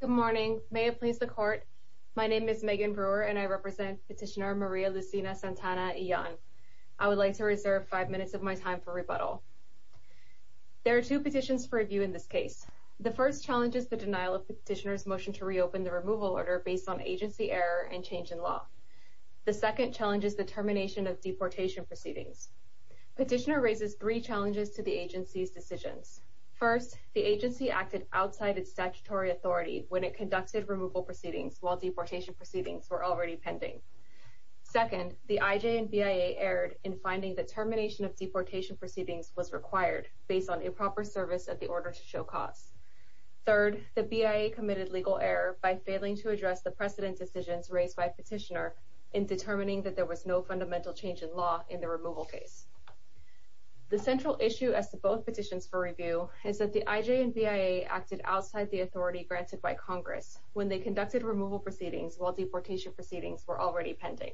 Good morning. May it please the Court. My name is Megan Brewer and I represent Petitioner Maria Lucina Santana Illan. I would like to reserve five minutes of my time for rebuttal. There are two petitions for review in this case. The first challenges the denial of the petitioner's motion to reopen the removal order based on agency error and change in law. The second challenges the termination of deportation proceedings. Petitioner raises three challenges to the agency's decisions. First, the agency acted outside its statutory authority when it conducted removal proceedings while deportation proceedings were already pending. Second, the IJ and BIA erred in finding that termination of deportation proceedings was required based on improper service of the order to show cause. Third, the BIA committed legal error by failing to address the precedent decisions raised by Petitioner in determining that there was no fundamental change in law in the removal case. The central issue as to both petitions for review is that the IJ and BIA acted outside the authority granted by Congress when they conducted removal proceedings while deportation proceedings were already pending.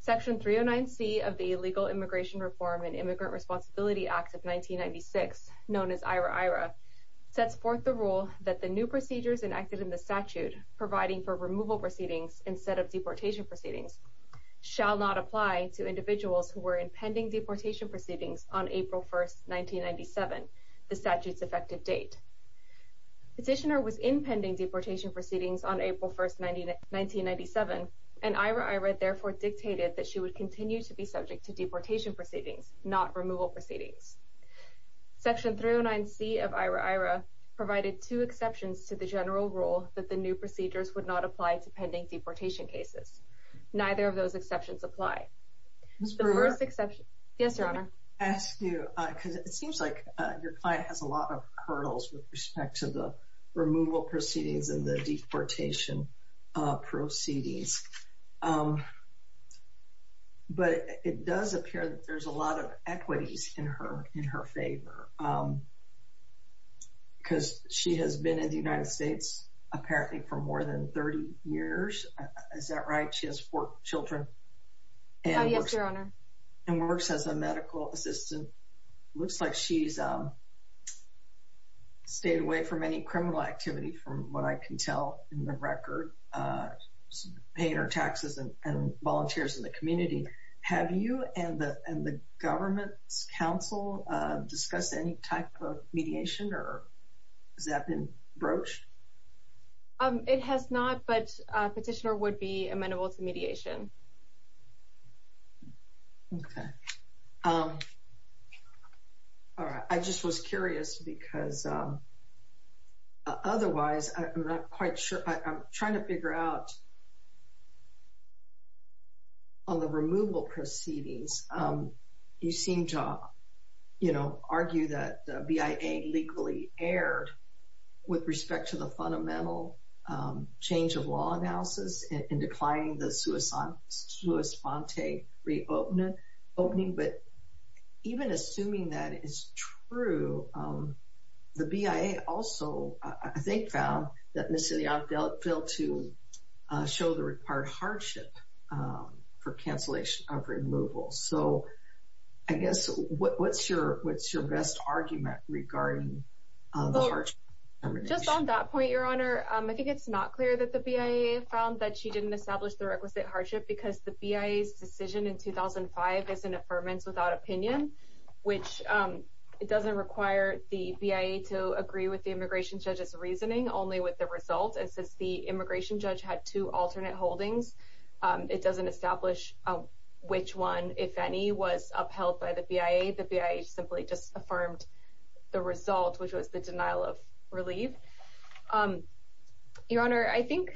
Section 309C of the Illegal Immigration Reform and Immigrant Responsibility Act of 1996, known as IRA-IRA, sets forth the rule that the new procedures enacted in the statute providing for removal proceedings instead of deportation proceedings shall not apply to individuals who were in pending deportation proceedings on April 1, 1997, the statute's effective date. Petitioner was in pending deportation proceedings on April 1, 1997, and IRA-IRA therefore dictated that she would continue to be subject to deportation proceedings, not removal proceedings. Section 309C of IRA-IRA provided two exceptions to the general rule that the new procedures would not apply to pending deportation cases. Neither of those exceptions apply. Ms. Brewer? Yes, Your Honor. I wanted to ask you, because it seems like your client has a lot of hurdles with respect to the removal proceedings and the deportation proceedings. But it does appear that there's a lot of equities in her favor. Because she has been in the United States, apparently, for more than 30 years. Is that right? Yes, Your Honor. And works as a medical assistant. Looks like she's stayed away from any criminal activity, from what I can tell in the record. Paying her taxes and volunteers in the community. Have you and the government's counsel discussed any type of mediation, or has that been broached? It has not, but Petitioner would be amenable to mediation. Okay. All right. I just was curious, because otherwise, I'm not quite sure. I'm trying to figure out, on the removal proceedings, you seem to, you know, argue that BIA legally erred with respect to the fundamental change of law analysis, in declining the sua sante reopening. But even assuming that is true, the BIA also, I think, found that Ms. Sillian failed to show the required hardship for cancellation of removal. So, I guess, what's your best argument regarding the hardship determination? Just on that point, Your Honor, I think it's not clear that the BIA found that she didn't establish the requisite hardship, because the BIA's decision in 2005 is an affirmance without opinion, which doesn't require the BIA to agree with the immigration judge's reasoning, only with the result. And since the immigration judge had two alternate holdings, it doesn't establish which one, if any, was upheld by the BIA. The BIA simply just affirmed the result, which was the denial of relief. Your Honor, I think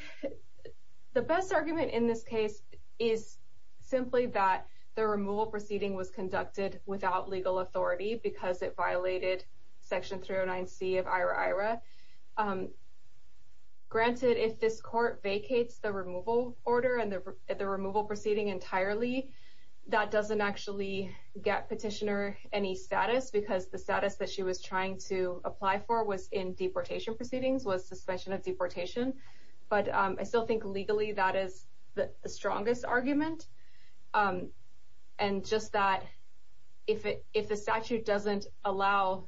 the best argument in this case is simply that the removal proceeding was conducted without legal authority, because it violated Section 309C of IRA-IRA. Granted, if this court vacates the removal order and the removal proceeding entirely, that doesn't actually get Petitioner any status, because the status that she was trying to apply for was in deportation proceedings, was suspension of deportation. But I still think, legally, that is the strongest argument. And just that, if the statute doesn't allow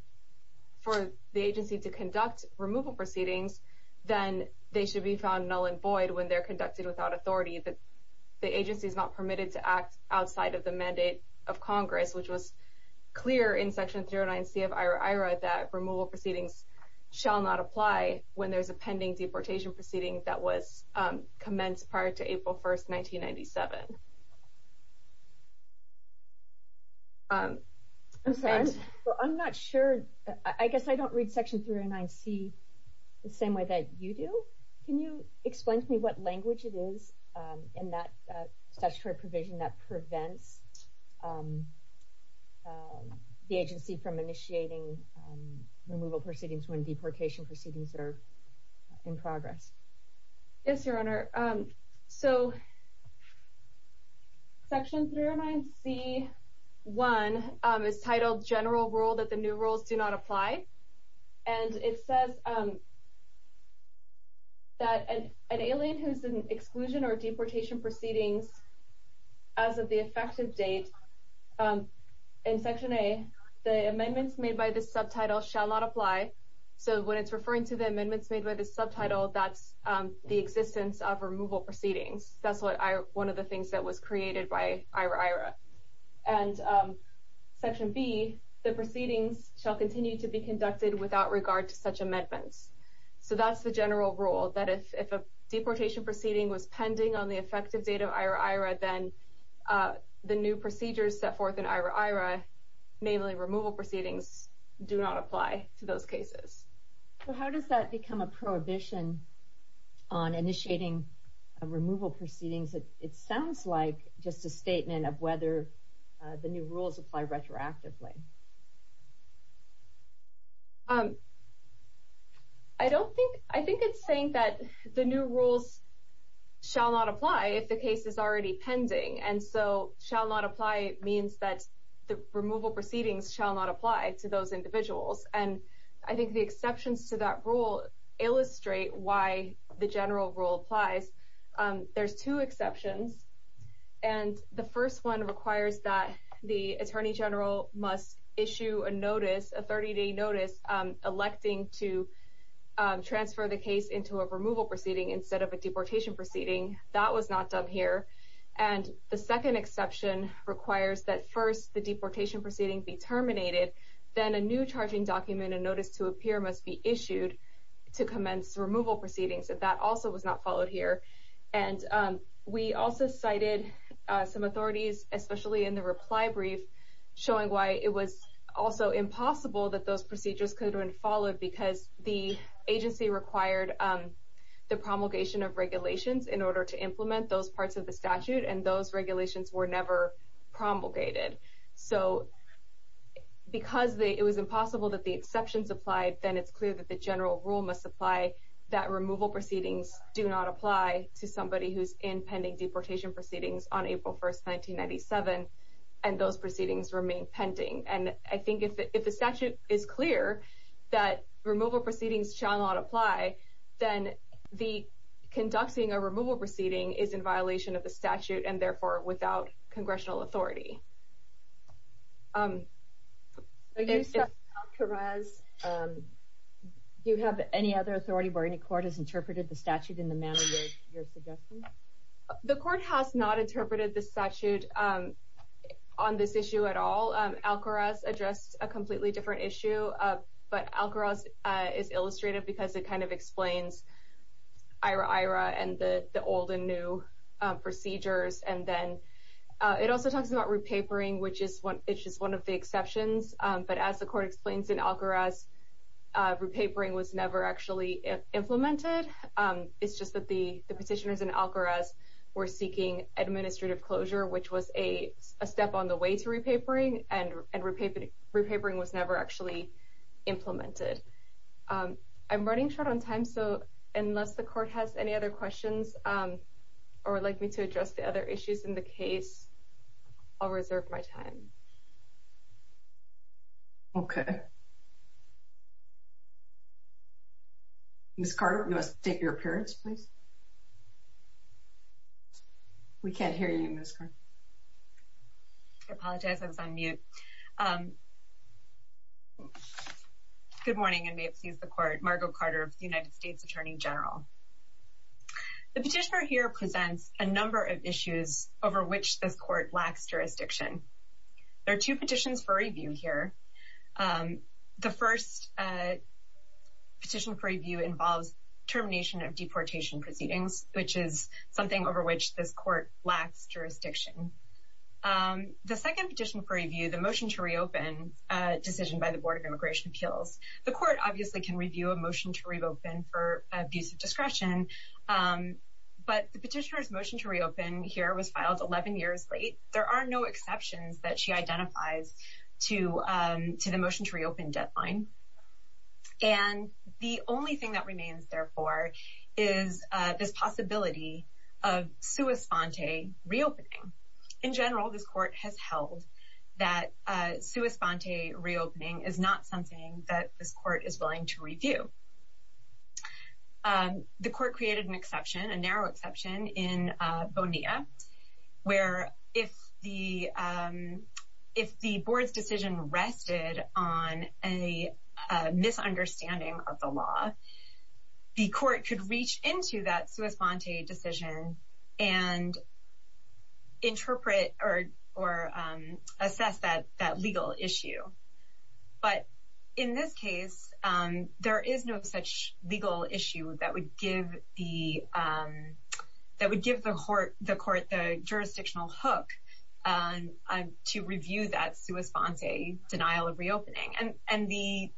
for the agency to conduct removal proceedings, then they should be found null and void when they're conducted without authority, that the agency is not permitted to act outside of the mandate of Congress, which was clear in Section 309C of IRA-IRA, that removal proceedings shall not apply when there's a pending deportation proceeding that was commenced prior to April 1st, 1997. I'm not sure, I guess I don't read Section 309C the same way that you do. Can you explain to me what language it is in that statutory provision that prevents the agency from initiating removal proceedings when deportation proceedings are in progress? Yes, Your Honor. So, Section 309C-1 is titled, General Rule that the new rules do not apply. And it says that an alien who is in exclusion or deportation proceedings as of the effective date in Section A, the amendments made by this subtitle shall not apply. So when it's referring to the amendments made by this subtitle, that's the existence of removal proceedings. That's one of the things that was created by IRA-IRA. And Section B, the proceedings shall continue to be conducted without regard to such amendments. So that's the general rule, that if a deportation proceeding was pending on the effective date of IRA-IRA, then the new procedures set forth in IRA-IRA, namely removal proceedings, do not apply to those cases. So how does that become a prohibition on initiating removal proceedings? It sounds like just a statement of whether the new rules apply retroactively. I think it's saying that the new rules shall not apply if the case is already pending. And so shall not apply means that the removal proceedings shall not apply to those individuals. And I think the exceptions to that rule illustrate why the general rule applies. There's two exceptions. And the first one requires that the Attorney General must issue a notice, a 30-day notice, electing to transfer the case into a removal proceeding instead of a deportation proceeding. That was not done here. And the second exception requires that first the deportation proceeding be terminated, then a new charging document and notice to appear must be issued to commence removal proceedings. That also was not followed here. And we also cited some authorities, especially in the reply brief, showing why it was also impossible that those procedures could have been followed because the agency required the promulgation of regulations in order to implement those parts of the statute, and those regulations were never promulgated. So because it was impossible that the exceptions applied, then it's clear that the general rule must apply that removal proceedings do not apply to somebody who's in pending deportation proceedings on April 1, 1997, and those proceedings remain pending. And I think if the statute is clear that removal proceedings shall not apply, then conducting a removal proceeding is in violation of the statute and therefore without congressional authority. Do you have any other authority where any court has interpreted the statute in the manner you're suggesting? The court has not interpreted the statute on this issue at all. Alcoraz addressed a completely different issue, but Alcoraz is illustrative because it kind of explains IRA-IRA and the old and new procedures. And then it also talks about repapering, which is one of the exceptions. But as the court explains in Alcoraz, repapering was never actually implemented. It's just that the petitioners in Alcoraz were seeking administrative closure, which was a step on the way to repapering, and repapering was never actually implemented. I'm running short on time, so unless the court has any other questions or would like me to address the other issues in the case, I'll reserve my time. Okay. Ms. Carter, you must state your appearance, please. We can't hear you, Ms. Carter. I apologize. I was on mute. Good morning, and may it please the Court. Margo Carter of the United States Attorney General. The petitioner here presents a number of issues over which this court lacks jurisdiction. There are two petitions for review here. The first petition for review involves termination of deportation proceedings, which is something over which this court lacks jurisdiction. The second petition for review, the motion to reopen decision by the Board of Immigration Appeals, the court obviously can review a motion to reopen for abuse of discretion, but the petitioner's motion to reopen here was filed 11 years late. There are no exceptions that she identifies to the motion to reopen deadline. And the only thing that remains, therefore, is this possibility of sua sponte reopening. In general, this court has held that sua sponte reopening is not something that this court is willing to review. The court created an exception, a narrow exception, in Bonilla, where if the board's decision rested on a misunderstanding of the law, the court could reach into that sua sponte decision and interpret or assess that legal issue. But in this case, there is no such legal issue that would give the court the jurisdictional hook to review that sua sponte denial of reopening. And the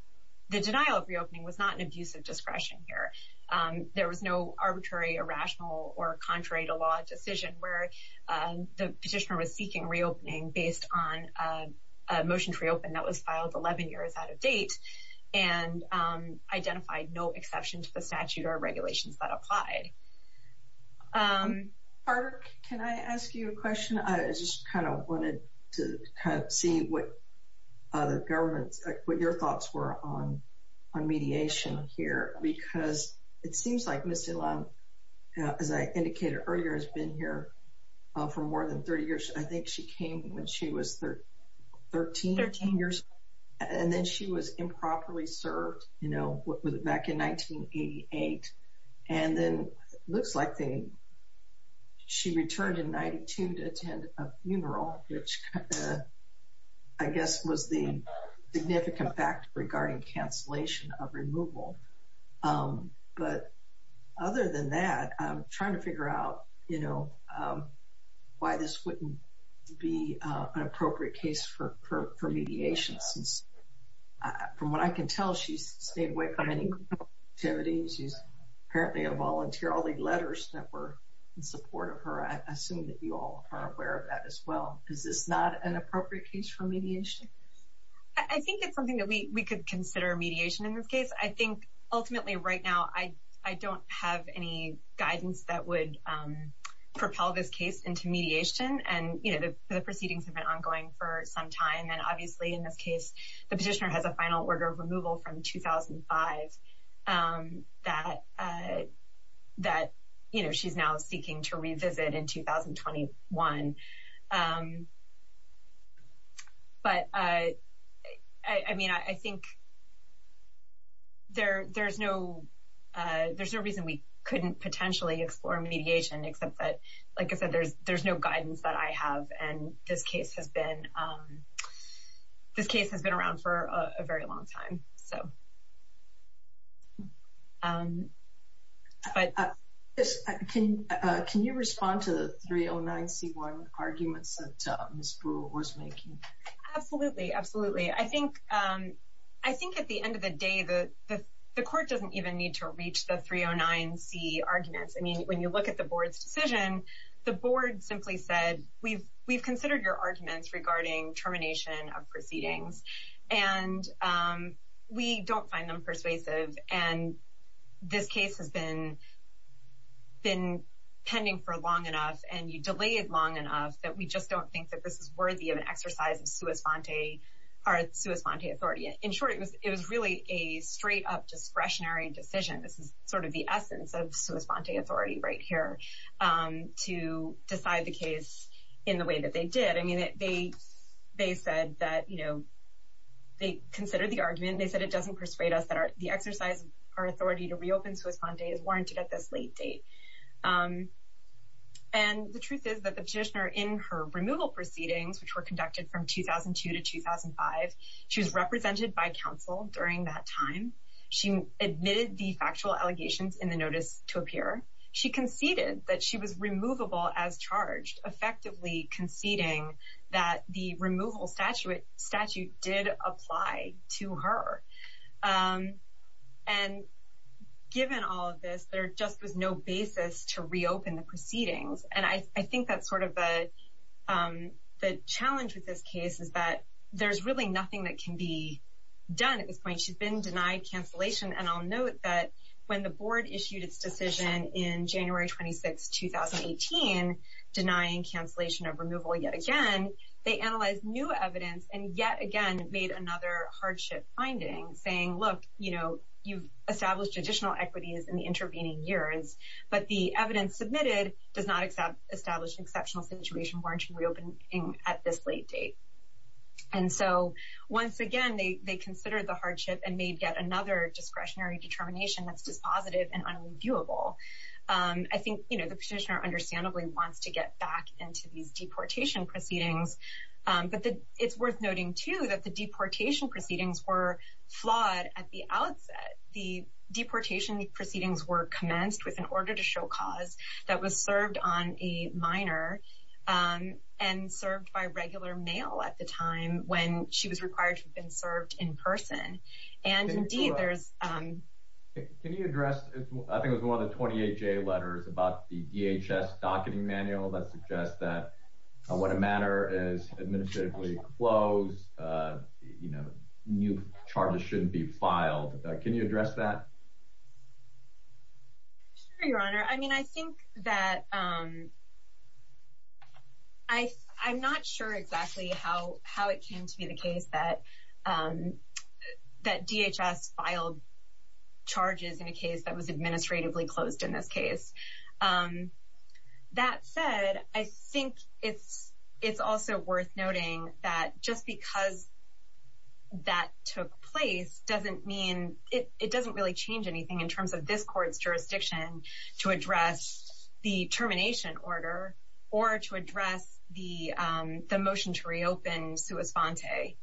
denial of reopening was not an abuse of discretion here. There was no arbitrary, irrational, or contrary-to-law decision where the petitioner was seeking reopening based on a motion to reopen that was filed 11 years out of date and identified no exception to the statute or regulations that applied. Barbara, can I ask you a question? I just kind of wanted to kind of see what the government's, what your thoughts were on mediation here, because it seems like Ms. DeLong, as I indicated earlier, has been here for more than 30 years. I think she came when she was 13. Thirteen years. And then she was improperly served, you know, back in 1988. And then it looks like she returned in 1992 to attend a funeral, which I guess was the significant fact regarding cancellation of removal. But other than that, I'm trying to figure out, you know, why this wouldn't be an appropriate case for mediation, since, from what I can tell, she's stayed away from any activities. She's apparently a volunteer. All the letters that were in support of her, I assume that you all are aware of that as well. Is this not an appropriate case for mediation? I think it's something that we could consider mediation in this case. I think, ultimately, right now, I don't have any guidance that would propel this case into mediation. And, you know, the proceedings have been ongoing for some time. And then, obviously, in this case, the petitioner has a final order of removal from 2005 that, you know, she's now seeking to revisit in 2021. But, I mean, I think there's no reason we couldn't potentially explore mediation, except that, like I said, there's no guidance that I have. And this case has been around for a very long time. Can you respond to the 309C1 arguments that Ms. Brewer was making? Absolutely, absolutely. I think, at the end of the day, the court doesn't even need to reach the 309C arguments. I mean, when you look at the board's decision, the board simply said, we've considered your arguments regarding termination of proceedings. And we don't find them persuasive. And this case has been pending for long enough, and you delayed long enough, that we just don't think that this is worthy of an exercise of sua sponte authority. In short, it was really a straight-up discretionary decision. This is sort of the essence of sua sponte authority right here, to decide the case in the way that they did. I mean, they said that, you know, they considered the argument. They said it doesn't persuade us that the exercise of our authority to reopen sua sponte is warranted at this late date. And the truth is that the petitioner, in her removal proceedings, which were conducted from 2002 to 2005, she was represented by counsel during that time. She admitted the factual allegations in the notice to appear. She conceded that she was removable as charged, effectively conceding that the removal statute did apply to her. And given all of this, there just was no basis to reopen the proceedings. And I think that's sort of the challenge with this case, is that there's really nothing that can be done at this point. I mean, she's been denied cancellation. And I'll note that when the board issued its decision in January 26, 2018, denying cancellation of removal yet again, they analyzed new evidence and yet again made another hardship finding, saying, look, you know, you've established additional equities in the intervening years, but the evidence submitted does not establish an exceptional situation warranting reopening at this late date. And so once again, they considered the hardship and made yet another discretionary determination that's dispositive and unreviewable. I think the petitioner understandably wants to get back into these deportation proceedings. But it's worth noting, too, that the deportation proceedings were flawed at the outset. The deportation proceedings were commenced with an order to show cause that was served on a minor and served by regular male at the time when she was required to have been served in person. And indeed, there's— Can you address—I think it was one of the 28-J letters about the DHS docketing manual that suggests that when a matter is administratively closed, you know, new charges shouldn't be filed. Can you address that? Sure, Your Honor. I mean, I think that—I'm not sure exactly how it came to be the case that DHS filed charges in a case that was administratively closed in this case. That said, I think it's also worth noting that just because that took place doesn't mean—it doesn't really change anything in terms of this Court's jurisdiction to address the termination order or to address the motion to reopen Sua Sponte.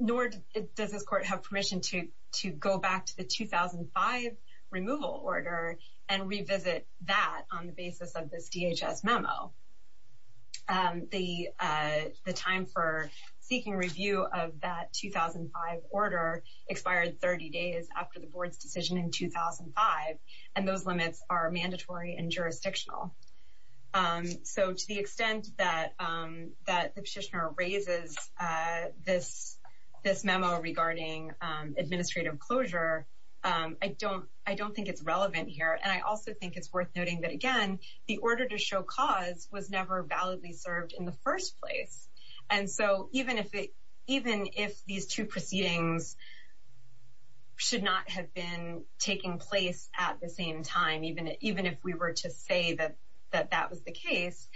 Nor does this Court have permission to go back to the 2005 removal order and revisit that on the basis of this DHS memo. The time for seeking review of that 2005 order expired 30 days after the Board's decision in 2005, and those limits are mandatory and jurisdictional. So to the extent that the Petitioner raises this memo regarding administrative closure, I don't think it's relevant here. And I also think it's worth noting that, again, the order to show cause was never validly served in the first place. And so even if these two proceedings should not have been taking place at the same time, even if we were to say that that was the case,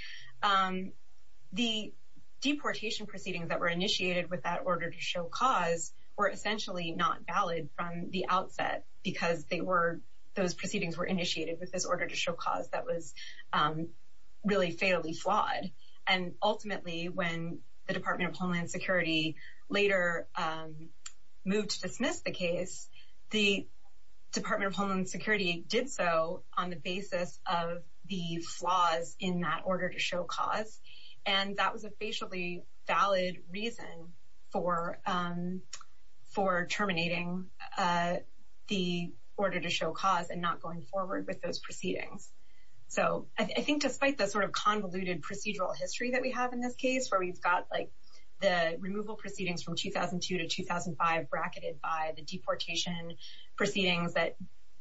the deportation proceedings that were initiated with that order to show cause were essentially not valid from the outset because those proceedings were initiated with this order to show cause that was really fatally flawed. And ultimately, when the Department of Homeland Security later moved to dismiss the case, the Department of Homeland Security did so on the basis of the flaws in that order to show cause. And that was a basically valid reason for terminating the order to show cause and not going forward with those proceedings. So I think despite the sort of convoluted procedural history that we have in this case, where we've got like the removal proceedings from 2002 to 2005 bracketed by the deportation proceedings that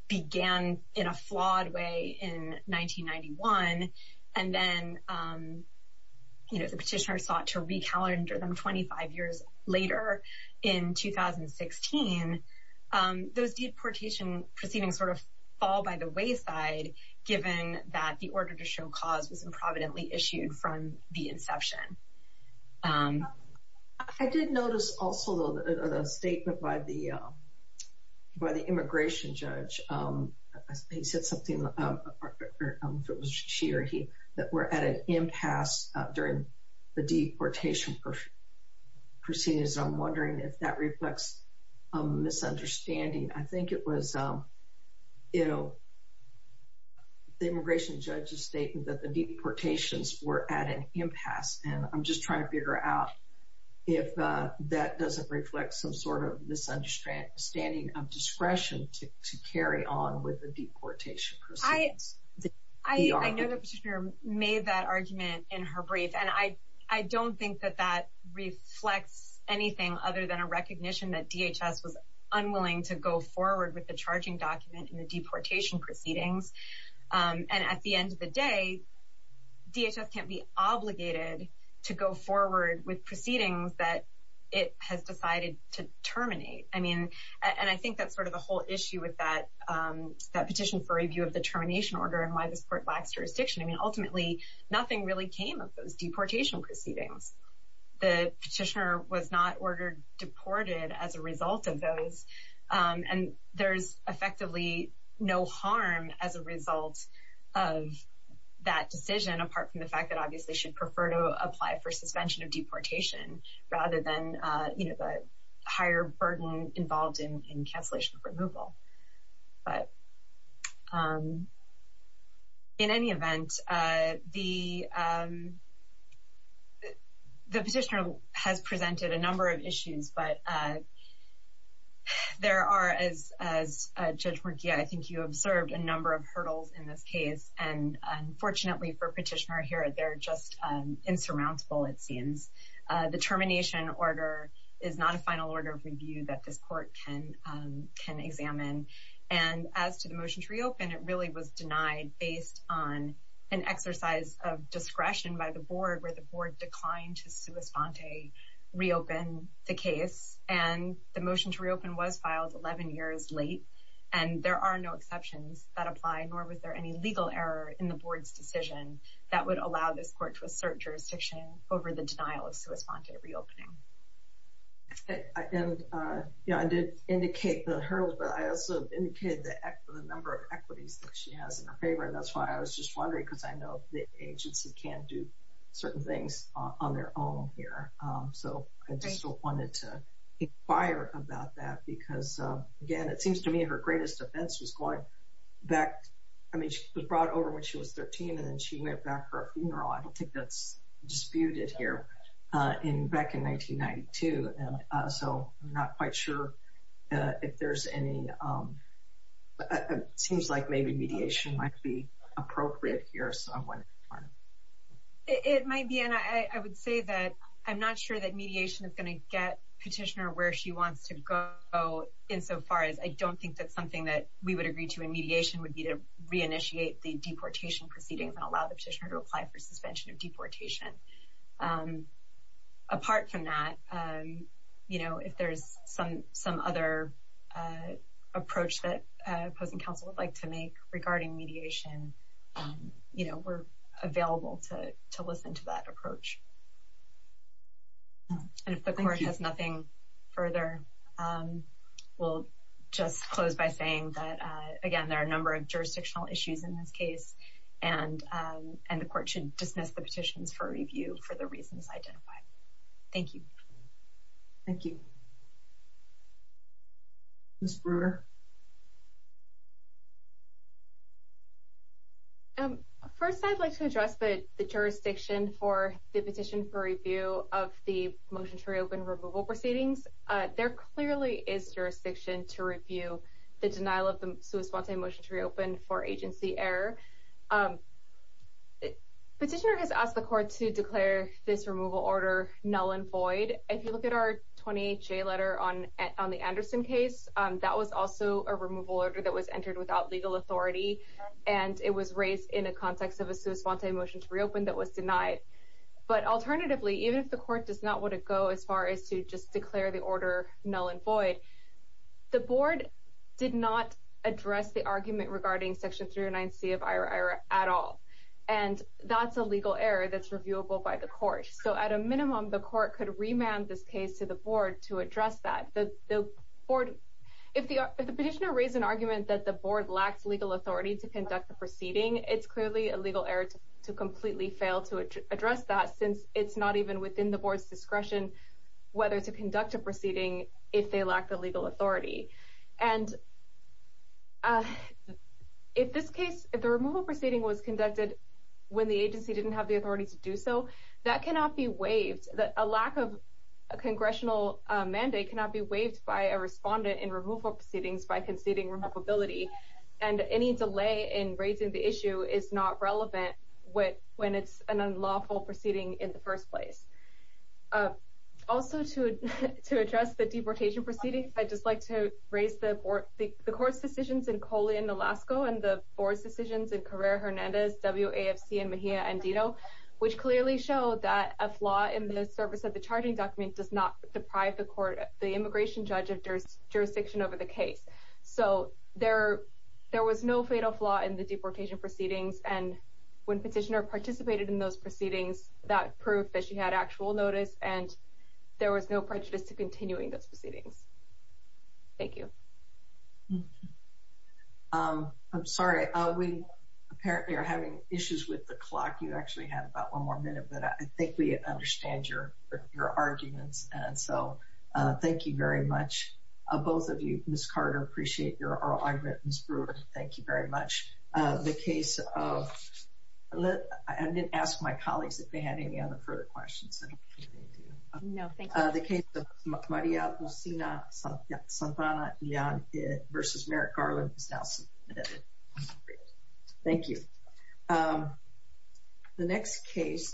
began in a flawed way in 1991, and then the petitioners sought to recalendar them 25 years later in 2016, those deportation proceedings sort of fall by the wayside given that the order to show cause was improvidently issued from the inception. I did notice also a statement by the immigration judge. He said something, she or he, that we're at an impasse during the deportation proceedings. I'm wondering if that reflects a misunderstanding. I think it was, you know, the immigration judge's statement that the deportations were at an impasse and I'm just trying to figure out if that doesn't reflect some sort of misunderstanding of discretion to carry on with the deportation proceedings. I know the petitioner made that argument in her brief, and I don't think that that reflects anything other than a recognition that DHS was unwilling to go forward with the charging document in the deportation proceedings. And at the end of the day, DHS can't be obligated to go forward with proceedings that it has decided to terminate. I mean, and I think that's sort of the whole issue with that petition for review of the termination order and why this court lacks jurisdiction. I mean, ultimately, nothing really came of those deportation proceedings. The petitioner was not ordered deported as a result of those, and there's effectively no harm as a result of that decision, apart from the fact that obviously she'd prefer to apply for suspension of deportation rather than, you know, the higher burden involved in cancellation of removal. But in any event, the petitioner has presented a number of issues, but there are, as Judge Morgia, I think you observed, a number of hurdles in this case. And unfortunately for Petitioner Herod, they're just insurmountable, it seems. The termination order is not a final order of review that this court can examine. And as to the motion to reopen, it really was denied based on an exercise of discretion by the board where the board declined to sua sponte reopen the case. And the motion to reopen was filed 11 years late. And there are no exceptions that apply, nor was there any legal error in the board's decision that would allow this court to assert jurisdiction over the denial of sua sponte reopening. And, you know, I did indicate the hurdles, but I also indicated the number of equities that she has in her favor. And that's why I was just wondering because I know the agency can do certain things on their own here. So I just wanted to inquire about that because, again, it seems to me her greatest offense was going back. I mean, she was brought over when she was 13, and then she went back for a funeral. I don't think that's disputed here back in 1992. So I'm not quite sure if there's any. It seems like maybe mediation might be appropriate here. It might be. And I would say that I'm not sure that mediation is going to get petitioner where she wants to go insofar as I don't think that's something that we would agree to. And mediation would be to reinitiate the deportation proceedings and allow the petitioner to apply for suspension of deportation. Apart from that, you know, if there's some other approach that opposing counsel would like to make regarding mediation, you know, we're available to listen to that approach. And if the court has nothing further, we'll just close by saying that, again, there are a number of jurisdictional issues in this case. And the court should dismiss the petitions for review for the reasons identified. Thank you. Thank you. Ms. Brewer. First, I'd like to address the jurisdiction for the petition for review of the motion to reopen removal proceedings. There clearly is jurisdiction to review the denial of the suicide motion to reopen for agency error. Petitioner has asked the court to declare this removal order null and void. If you look at our 28 letter on on the Anderson case, that was also a removal order that was entered without legal authority. And it was raised in a context of a suicide motion to reopen that was denied. But alternatively, even if the court does not want to go as far as to just declare the order null and void, the board did not address the argument regarding Section 309 C of IRA at all. And that's a legal error that's reviewable by the court. So at a minimum, the court could remand this case to the board to address that. If the petitioner raised an argument that the board lacks legal authority to conduct the proceeding, it's clearly a legal error to completely fail to address that since it's not even within the board's discretion whether to conduct a proceeding if they lack the legal authority. And if the removal proceeding was conducted when the agency didn't have the authority to do so, that cannot be waived. A lack of a congressional mandate cannot be waived by a respondent in removal proceedings by conceding removability. And any delay in raising the issue is not relevant when it's an unlawful proceeding in the first place. Also, to address the deportation proceeding, I'd just like to raise the court's decisions in Coley and Alaska and the board's decisions in Carrera Hernandez, WAFC, and Mejia Andito, which clearly show that a flaw in the service of the charging document does not deprive the immigration judge of jurisdiction over the case. So there was no fatal flaw in the deportation proceedings, and when petitioner participated in those proceedings, that proved that she had actual notice and there was no prejudice to continuing those proceedings. Thank you. I'm sorry, we apparently are having issues with the clock. You actually have about one more minute, but I think we understand your arguments. And so thank you very much. Both of you, Ms. Carter, appreciate your argument. Ms. Brewer, thank you very much. The case of, I didn't ask my colleagues if they had any other further questions. No, thank you. The case of Maria Lucina Santana versus Merrick Garland is now submitted. Thank you. The next case.